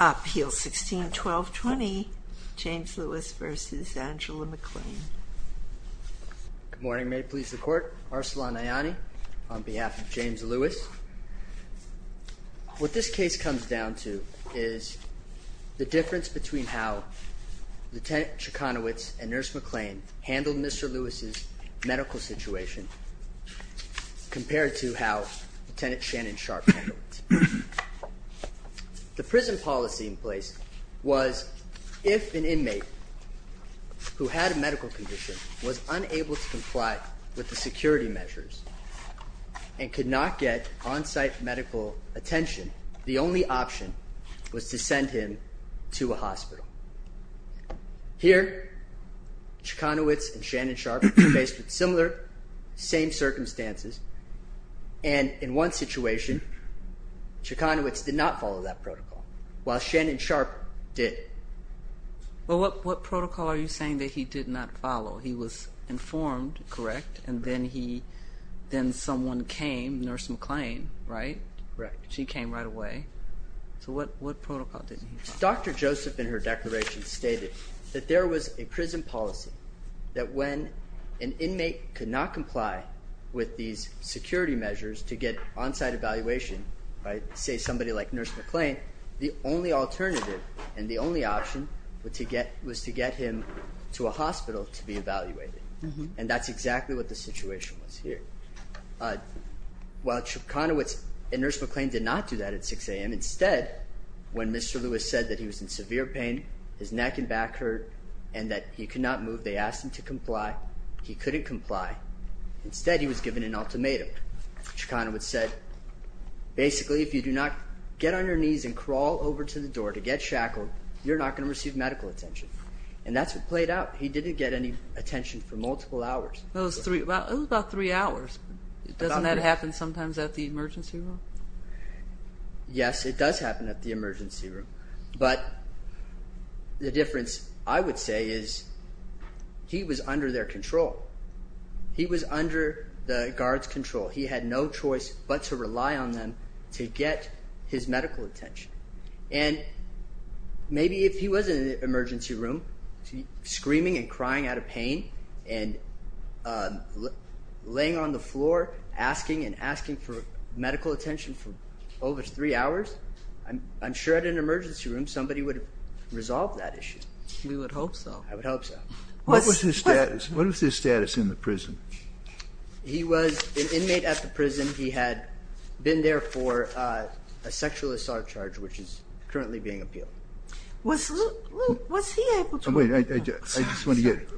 Appeal 16-12-20, James Lewis v. Angela McLean. Good morning, may it please the court. Arsalan Ayani on behalf of James Lewis. What this case comes down to is the difference between how Lieutenant Chicanowitz and Nurse McLean handled Mr. Lewis's medical situation compared to how Lieutenant Shannon Sharp handled it. The prison policy in place was if an inmate who had a medical condition was unable to comply with the security measures and could not get on-site medical attention, the only option was to send him to a hospital. Here, Chicanowitz and Shannon Sharp were faced with similar, same circumstances, and in one situation, Chicanowitz did not follow that protocol, while Shannon Sharp did. But what protocol are you saying that he did not follow? He was informed, correct, and then he, then someone came, Nurse McLean, right? Right. She came right away. So what protocol did he follow? Dr. Joseph, in her declaration, stated that there was a prison policy that when an inmate could not comply with these security measures to get on-site evaluation by, say, somebody like Nurse McLean, the only alternative and the only option was to get him to a hospital to be evaluated. And that's exactly what the situation was here. While Chicanowitz and Nurse McLean did not do that at 6 a.m., instead, when Mr. Lewis said that he was in severe pain, his neck and back hurt, and that he could not move, they asked him to comply. He couldn't comply. Instead, he was given an ultimatum. Chicanowitz said, basically, if you do not get on your knees and crawl over to the door to get shackled, you're not going to receive medical attention. And that's what played out. He didn't get any attention for multiple hours. It was about three hours. Doesn't that happen sometimes at the emergency room? Yes, it does happen at the emergency room. But the difference, I would say, is he was under their control. He was under the guards' control. He had no choice but to rely on them to get his medical attention. And maybe if he was in an emergency room, screaming and crying out of pain, and laying on the floor, asking and asking for medical attention for over three hours, I'm sure at an emergency room, somebody would have resolved that issue. We would hope so. I would hope so. What was his status? In the prison. He was an inmate at the prison. He had been there for a sexual assault charge, which is currently being appealed. Was Luke, Luke, was he able to? Wait, I just want to get,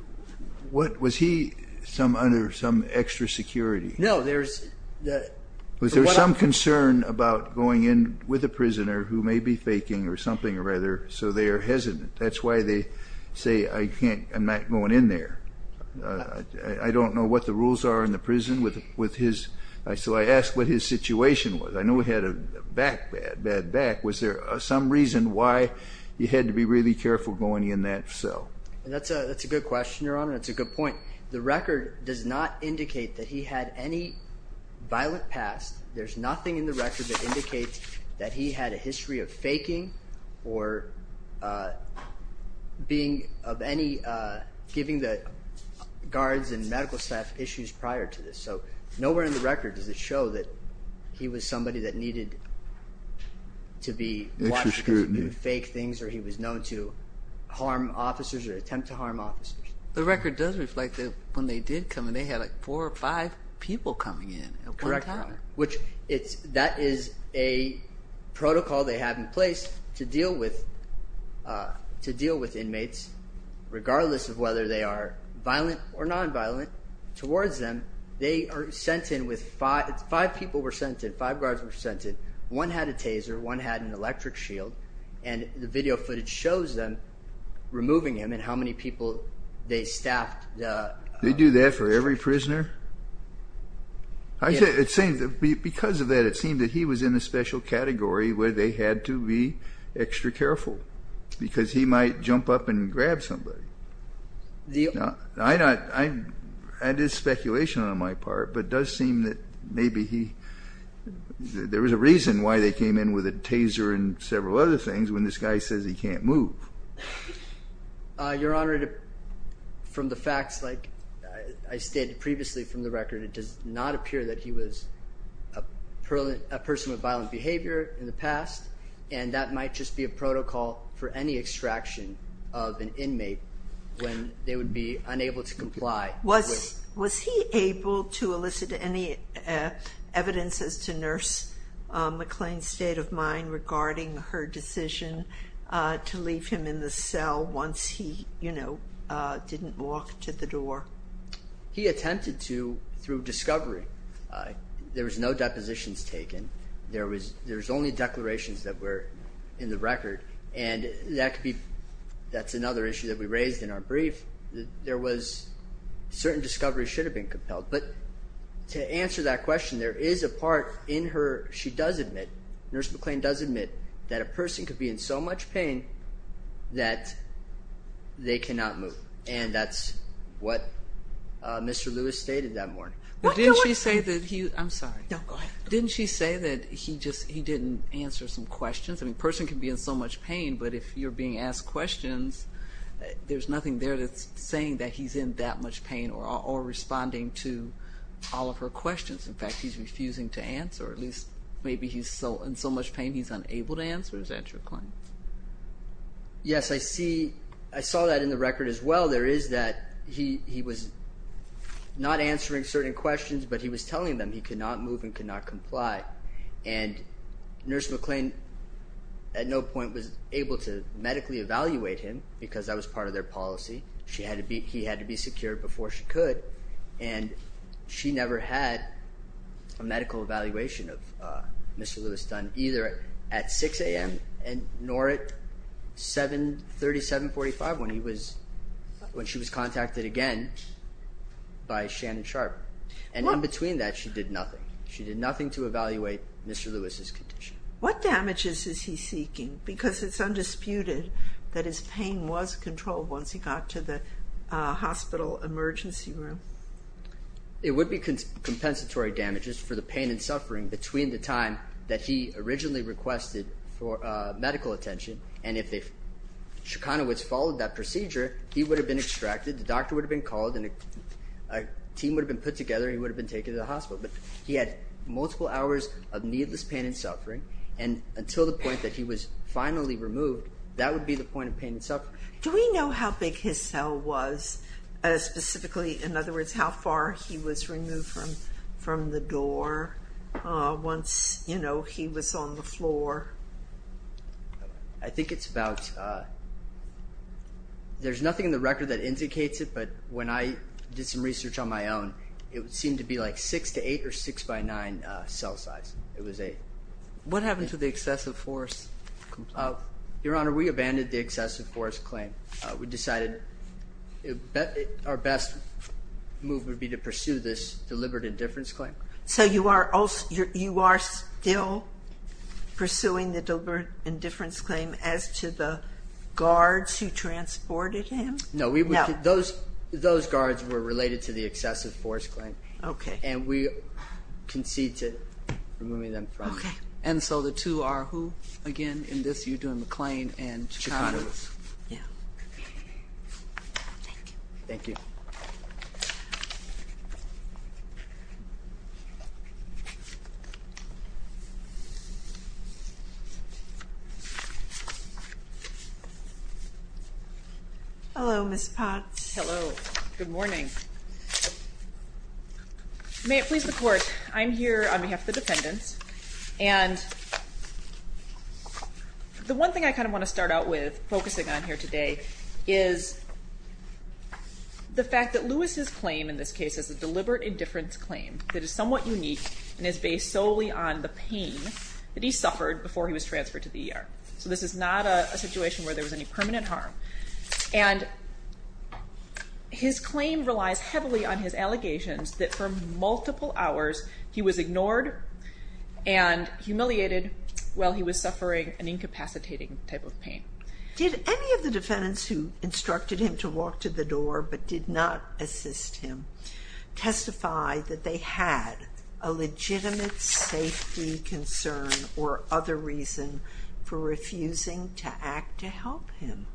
what, was he some, under some extra security? No, there's the. Was there some concern about going in with a prisoner who may be faking or something or rather, so they are hesitant? That's why they say, I can't, I'm not going in there. I don't know what the rules are in the prison with, with his, so I asked what his situation was. I know he had a back, bad, bad back. Was there some reason why you had to be really careful going in that cell? That's a, that's a good question, Your Honor. That's a good point. The record does not indicate that he had any violent past. There's nothing in the record that indicates that he had a history of faking or being of any, giving the guards and medical staff issues prior to this. So nowhere in the record does it show that he was somebody that needed to be. Extra scrutiny. Faked things or he was known to harm officers or attempt to harm officers. The record does reflect that when they did come in, they had like four or five people coming in at one time. Which it's, that is a protocol they have in place to deal with, to deal with inmates, regardless of whether they are violent or non-violent. Towards them, they are sent in with five, five people were sent in, five guards were sent in. One had a taser, one had an electric shield. And the video footage shows them removing him and how many people they staffed. They do that for every prisoner? I said, it seems that because of that, it seemed that he was in a special category where they had to be extra careful. Because he might jump up and grab somebody. The, I, I, I did speculation on my part, but does seem that maybe he, there was a reason why they came in with a taser and several other things when this guy says he can't move. Uh, Your Honor, from the facts, like I stated previously from the record, it does not appear that he was a person with violent behavior in the past. And that might just be a protocol for any extraction of an inmate when they would be unable to comply. Was, was he able to elicit any evidence as to nurse McLean's state of mind regarding her decision to leave him in the cell once he, you know, didn't walk to the door? He attempted to through discovery. There was no depositions taken. There was, there's only declarations that were in the record. And that could be, that's another issue that we raised in our brief. There was certain discovery should have been compelled. But to answer that question, there is a part in her, she does admit, nurse McLean does admit that a person could be in so much pain that they cannot move. And that's what Mr. Lewis stated that morning. But didn't she say that he, I'm sorry. No, go ahead. Didn't she say that he just, he didn't answer some questions? I mean, person can be in so much pain, but if you're being asked questions, there's nothing there that's saying that he's in that much pain or, or responding to all of her questions. In fact, he's refusing to answer at least maybe he's so in so much pain, he's unable to answer. Is that your point? Yes, I see. I saw that in the record as well. There is that he, he was not answering certain questions, but he was telling them he could not move and could not comply. And nurse McLean at no point was able to medically evaluate him. Because that was part of their policy. She had to be, he had to be secured before she could. And she never had a medical evaluation of Mr. Lewis done either at 6 a.m. and nor at 7, 37, 45 when he was, when she was contacted again by Shannon Sharp. And in between that, she did nothing. She did nothing to evaluate Mr. Lewis's condition. What damages is he seeking? Because it's undisputed that his pain was controlled once he got to the hospital emergency room. It would be compensatory damages for the pain and suffering between the time that he originally requested for medical attention. And if the Shekinowitz followed that procedure, he would have been extracted. The doctor would have been called and a team would have been put together. He would have been taken to the hospital. But he had multiple hours of needless pain and suffering. And until the point that he was finally removed, that would be the point of pain and suffering. Do we know how big his cell was specifically? In other words, how far he was removed from the door once he was on the floor? I think it's about, there's nothing in the record that indicates it. But when I did some research on my own, it would seem to be like six to eight or six by nine cell size. It was eight. What happened to the excessive force complaint? Your Honor, we abandoned the excessive force claim. We decided our best move would be to pursue this deliberate indifference claim. So you are still pursuing the deliberate indifference claim as to the guards who transported him? No, those guards were related to the excessive force claim. Okay. And we concede to removing them from it. Okay. And so the two are who? Again, in this, you're doing McLean and Chicanos. Yeah. Thank you. Thank you. Hello, Ms. Potts. Hello. Good morning. Please support. I'm here on behalf of the defendants. And the one thing I kind of want to start out with focusing on here today is the fact that Lewis's claim in this case is a deliberate indifference claim that is somewhat unique and is based solely on the pain that he suffered before he was transferred to the ER. So this is not a situation where there was any permanent harm. And his claim relies heavily on his allegations that for multiple hours he was ignored and humiliated while he was suffering an incapacitating type of pain. Did any of the defendants who instructed him to walk to the door but did not assist him testify that they had a legitimate safety concern or other reason for refusing to act to help him?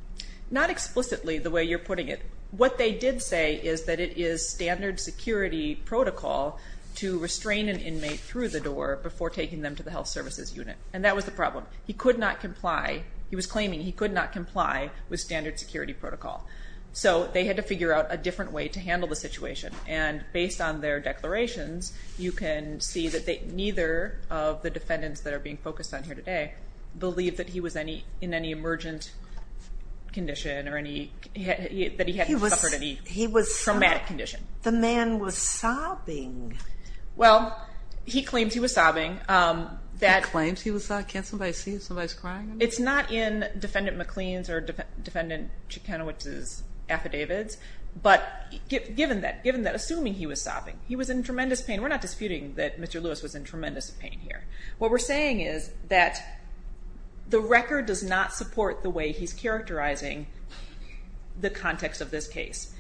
Not explicitly the way you're putting it. What they did say is that it is standard security protocol to restrain an inmate through the door before taking them to the health services unit. And that was the problem. He could not comply. He was claiming he could not comply with standard security protocol. So they had to figure out a different way to handle the situation. And based on their declarations, you can see that neither of the defendants that are being focused on here today believe that he was in any emergent condition or that he had suffered any traumatic condition. The man was sobbing. Well, he claims he was sobbing. He claims he was sobbing? Can't somebody see if somebody's crying? It's not in Defendant McLean's or Defendant Ciechanowicz's affidavits. But given that, assuming he was sobbing, he was in tremendous pain. We're not disputing that Mr. Lewis was in tremendous pain here. What we're saying is that the record does not support the way he's characterizing the context of this case.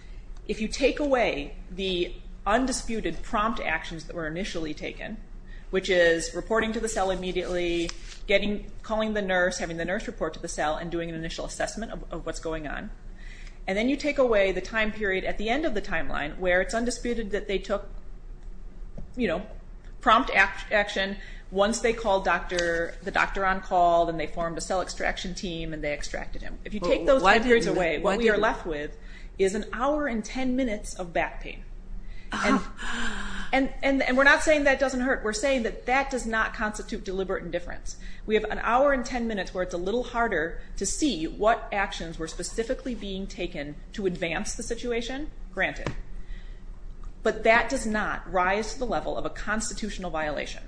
If you take away the undisputed prompt actions that were initially taken, which is reporting to the cell immediately, calling the nurse, having the nurse report to the cell, and doing an initial assessment of what's going on. And then you take away the time period at the end of the timeline where it's undisputed that they took, you know, once they called the doctor on call, then they formed a cell extraction team and they extracted him. If you take those time periods away, what we are left with is an hour and 10 minutes of back pain. And we're not saying that doesn't hurt. We're saying that that does not constitute deliberate indifference. We have an hour and 10 minutes where it's a little harder to see what actions were specifically being taken to advance the situation, granted. But that does not rise to the level of a constitutional violation,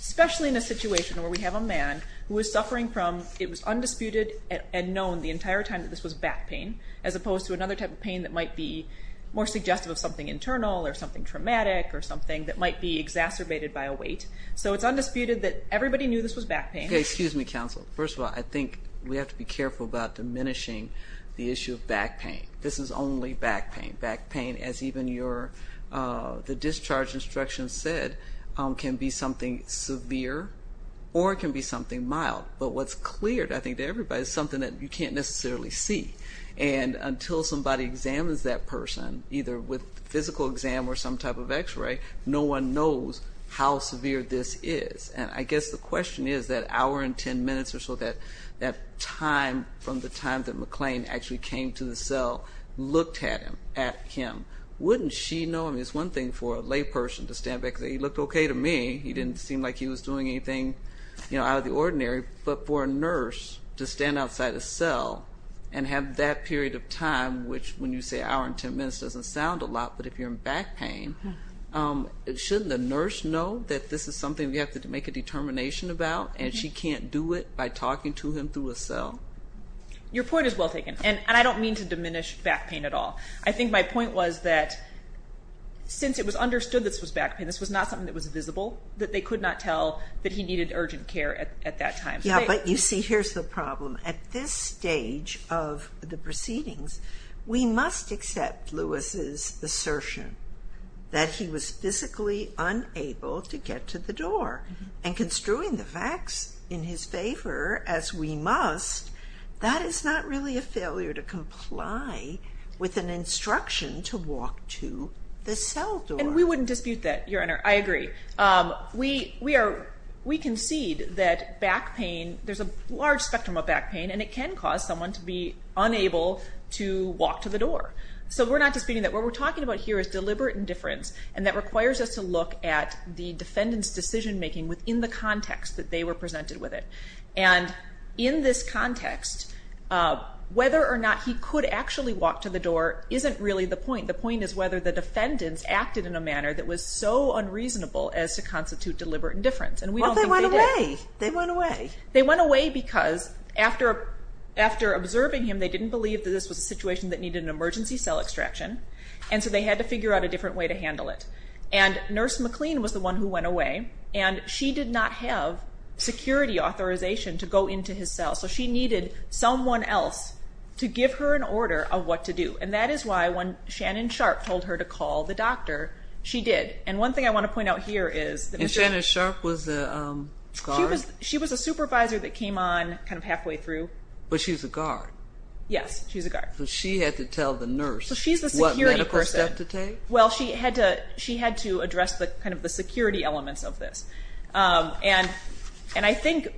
especially in a situation where we have a man who is suffering from, it was undisputed and known the entire time that this was back pain, as opposed to another type of pain that might be more suggestive of something internal or something traumatic or something that might be exacerbated by a weight. So it's undisputed that everybody knew this was back pain. Okay, excuse me, counsel. First of all, I think we have to be careful about diminishing the issue of back pain. This is only back pain. As even the discharge instructions said, it can be something severe or it can be something mild. But what's cleared, I think, to everybody is something that you can't necessarily see. And until somebody examines that person, either with a physical exam or some type of x-ray, no one knows how severe this is. And I guess the question is that hour and 10 minutes or so, that time from the time that McLean actually came to the cell, looked at him, at him, wouldn't she know? I mean, it's one thing for a lay person to stand back and say, he looked okay to me. He didn't seem like he was doing anything out of the ordinary. But for a nurse to stand outside a cell and have that period of time, which when you say hour and 10 minutes doesn't sound a lot, but if you're in back pain, shouldn't the nurse know that this is something we have to make a determination about and she can't do it by talking to him through a cell? Your point is well taken. And I don't mean to diminish back pain at all. I think my point was that since it was understood this was back pain, this was not something that was visible, that they could not tell that he needed urgent care at that time. Yeah, but you see, here's the problem. At this stage of the proceedings, we must accept Lewis's assertion that he was physically unable to get to the door. And construing the facts in his favor as we must, that is not really a failure to comply with an instruction to walk to the cell door. And we wouldn't dispute that, Your Honor. I agree. We concede that back pain, there's a large spectrum of back pain, and it can cause someone to be unable to walk to the door. So we're not disputing that. What we're talking about here is deliberate indifference. And that requires us to look at the defendant's decision making within the context that they were presented with it. And in this context, whether or not he could actually walk to the door isn't really the point. The point is whether the defendants acted in a manner that was so unreasonable as to constitute deliberate indifference. And we don't think they did. Well, they went away. They went away. They went away because after observing him, they didn't believe that this was a situation that needed an emergency cell extraction. And so they had to figure out a different way to handle it. And Nurse McLean was the one who went away. And she did not have security authorization to go into his cell. So she needed someone else to give her an order of what to do. And that is why when Shannon Sharp told her to call the doctor, she did. And one thing I want to point out here is that... And Shannon Sharp was the guard? She was a supervisor that came on kind of halfway through. But she was a guard. Yes, she was a guard. She had to tell the nurse what medical step to take? Well, she had to address the security elements of this. And I think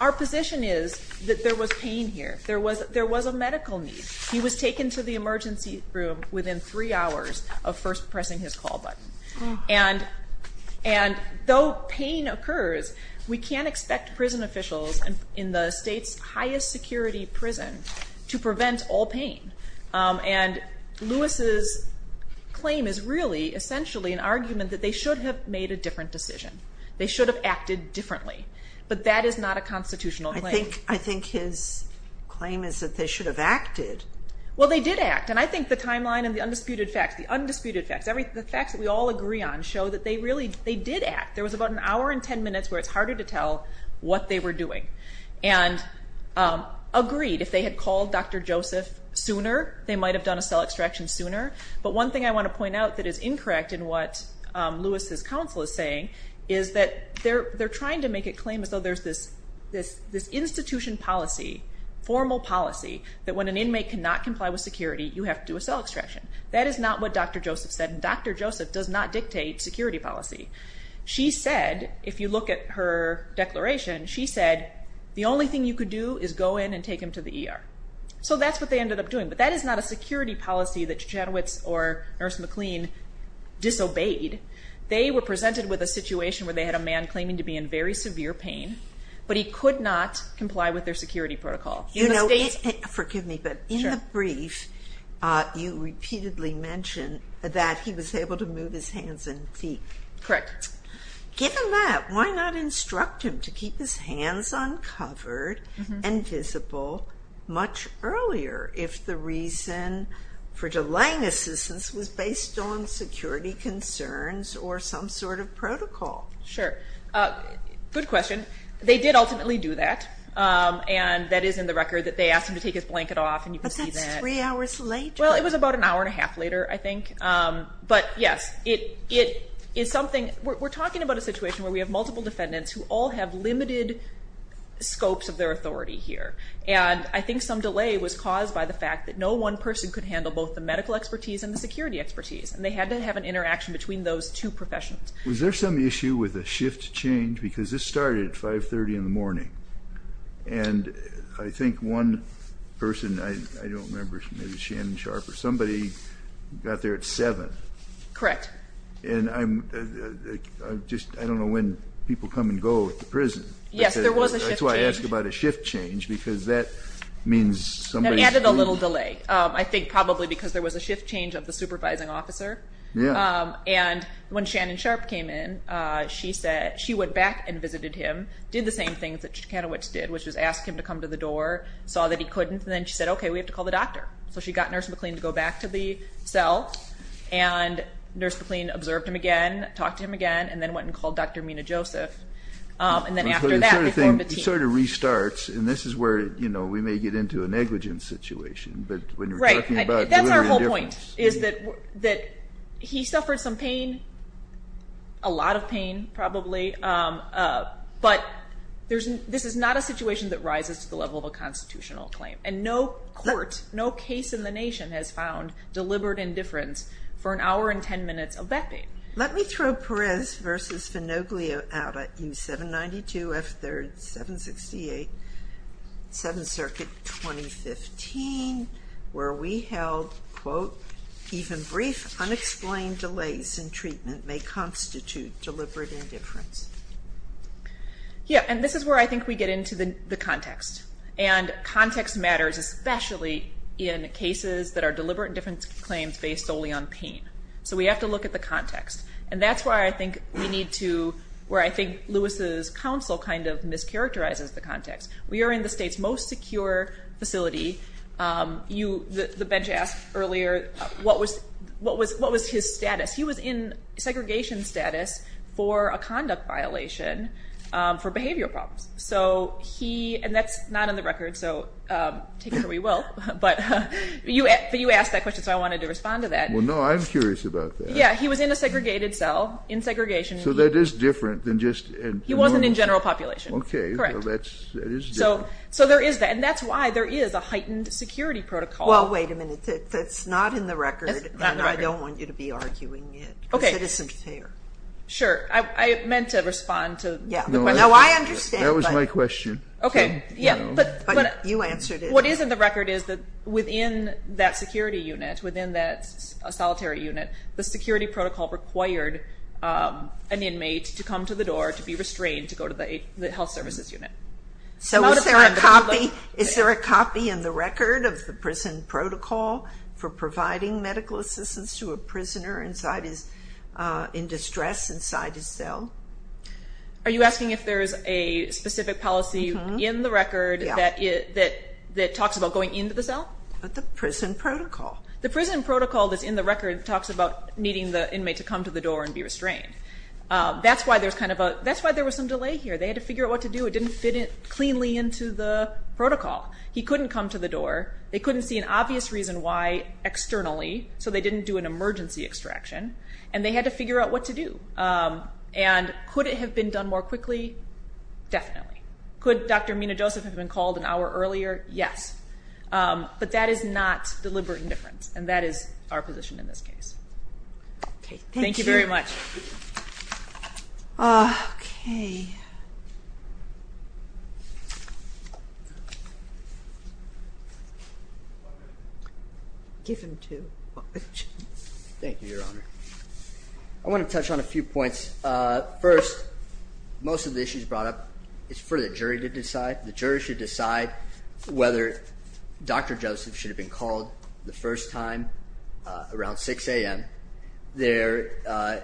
our position is that there was pain here. There was a medical need. He was taken to the emergency room within three hours of first pressing his call button. And though pain occurs, we can't expect prison officials in the state's highest security prison to prevent all pain. And Lewis's claim is really essentially an argument that they should have made a different decision. They should have acted differently. But that is not a constitutional claim. I think his claim is that they should have acted. Well, they did act. And I think the timeline and the undisputed facts, the undisputed facts, the facts that we all agree on show that they really, they did act. There was about an hour and 10 minutes where it's harder to tell what they were doing. And agreed, if they had called Dr. Joseph sooner, they might have done a cell extraction sooner. But one thing I want to point out that is incorrect in what Lewis's counsel is saying is that they're trying to make a claim as though there's this institution policy, formal policy, that when an inmate cannot comply with security, you have to do a cell extraction. That is not what Dr. Joseph said. And Dr. Joseph does not dictate security policy. She said, if you look at her declaration, she said, the only thing you could do is go in and take him to the ER. So that's what they ended up doing. But that is not a security policy that Janowitz or Nurse McLean disobeyed. They were presented with a situation where they had a man claiming to be in very severe pain, but he could not comply with their security protocol. You know, forgive me, but in the brief, you repeatedly mentioned that he was able to move his hands and feet. Correct. Given that, why not instruct him to keep his hands uncovered and visible much earlier if the reason for delaying assistance was based on security concerns or some sort of protocol? Sure. Good question. They did ultimately do that. And that is in the record that they asked him to take his blanket off. And you can see that. But that's three hours later. Well, it was about an hour and a half later, I think. But yes, it is something, we're talking about a situation where we have multiple defendants who all have limited scopes of their authority here. And I think some delay was caused by the fact that no one person could handle both the medical expertise and the security expertise. And they had to have an interaction between those two professions. Was there some issue with a shift change? Because this started at 530 in the morning. And I think one person, I don't remember, maybe Shannon Sharper, somebody got there at 7. Correct. And I'm just, I don't know when people come and go at the prison. Yes, there was a shift change. That's why I asked about a shift change, because that means somebody... That added a little delay. I think probably because there was a shift change of the supervising officer. Yeah. And when Shannon Sharpe came in, she said, she went back and visited him, did the same things that Kanowitz did, which was ask him to come to the door, saw that he couldn't. And then she said, okay, we have to call the doctor. So she got Nurse McLean to go back to the cell. And Nurse McLean observed him again, talked to him again, and then went and called Dr. Mina Joseph. And then after that, they formed a team. It sort of restarts. And this is where we may get into a negligence situation. But when you're talking about delivery indifference... Right. That's our whole point, is that he suffered some pain, a lot of pain, probably. But this is not a situation that rises to the level of a constitutional claim. And no court, no case in the nation has found deliberate indifference for an hour and 10 minutes of that pain. Let me throw Perez v. Finoglio out at you, 792 F. 3rd, 768, Seventh Circuit, 2015, where we held, quote, even brief unexplained delays in treatment may constitute deliberate indifference. Yeah. And this is where I think we get into the context. And context matters, especially in cases that are deliberate indifference claims based solely on pain. So we have to look at the context. And that's where I think we need to... Where I think Lewis's counsel kind of mischaracterizes the context. We are in the state's most secure facility. The bench asked earlier, what was his status? He was in segregation status for a conduct violation for behavioral problems. So he... And that's not in the record. So take it where you will. But you asked that question. So I wanted to respond to that. Well, no, I'm curious about that. Yeah. He was in a segregated cell, in segregation. So that is different than just... He wasn't in general population. Okay. Correct. That is different. So there is that. And that's why there is a heightened security protocol. Well, wait a minute. That's not in the record. And I don't want you to be arguing it because it isn't fair. Sure. I meant to respond to the question. No, I understand. That was my question. Okay. Yeah. You answered it. What is in the record is that within that security unit, within that solitary unit, the security protocol required an inmate to come to the door, to be restrained, to go to the health services unit. So is there a copy in the record of the prison protocol for providing medical assistance to a prisoner in distress inside his cell? Are you asking if there is a specific policy in the record that talks about going into the cell? But the prison protocol. The prison protocol that's in the record talks about needing the inmate to come to the door and be restrained. That's why there was some delay here. They had to figure out what to do. It didn't fit cleanly into the protocol. He couldn't come to the door. They couldn't see an obvious reason why externally. So they didn't do an emergency extraction. And they had to figure out what to do. And could it have been done more quickly? Definitely. Could Dr. Mina-Joseph have been called an hour earlier? Yes. But that is not deliberate indifference. And that is our position in this case. Okay. Thank you very much. Okay. Give him two. Thank you, Your Honor. I want to touch on a few points. First, most of the issues brought up is for the jury to decide. The jury should decide whether Dr. Joseph should have been called the first time around 6 a.m. There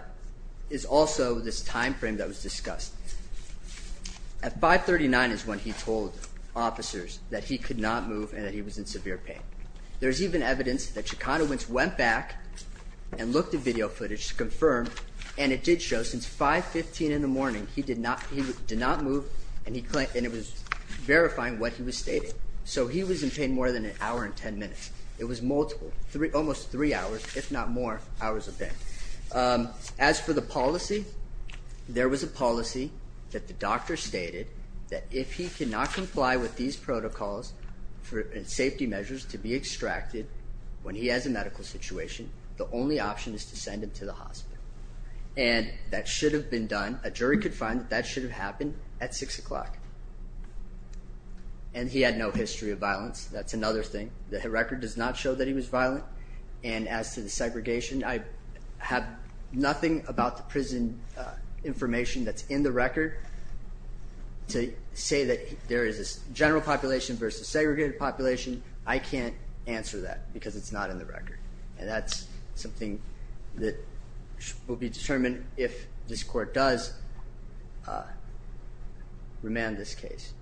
is also this time frame that was discussed. At 5.39 is when he told officers that he could not move and that he was in severe pain. There's even evidence that Shekinah Wentz went back and looked at video footage to confirm, and it did show since 5.15 in the morning, he did not move. And it was verifying what he was stating. So he was in pain more than an hour and 10 minutes. It was multiple, almost three hours, if not more, hours of pain. As for the policy, there was a policy that the doctor stated that if he cannot comply with these protocols and safety measures to be extracted when he has a medical situation, the only option is to send him to the hospital. And that should have been done. A jury could find that that should have happened at 6 o'clock. And he had no history of violence. That's another thing. The record does not show that he was violent. And as to the segregation, I have nothing about the prison information that's in the record to say that there is this general population versus segregated population. I can't answer that because it's not in the record. And that's something that will be determined if this court does remand this case,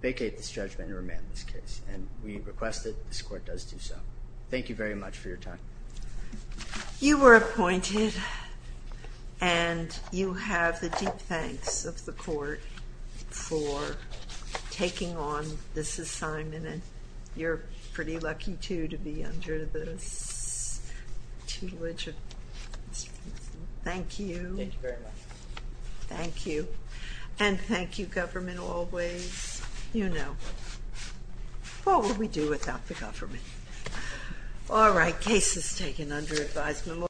vacate this judgment and remand this case. And we request that this court does do so. Thank you very much for your time. You were appointed and you have the deep thanks of the court for taking on this assignment. And you're pretty lucky, too, to be under this tutelage of Mr. Winston. Thank you. Thank you very much. Thank you. And thank you, government, always. You know what we do without the government. All right. Case is taken under advised memorial.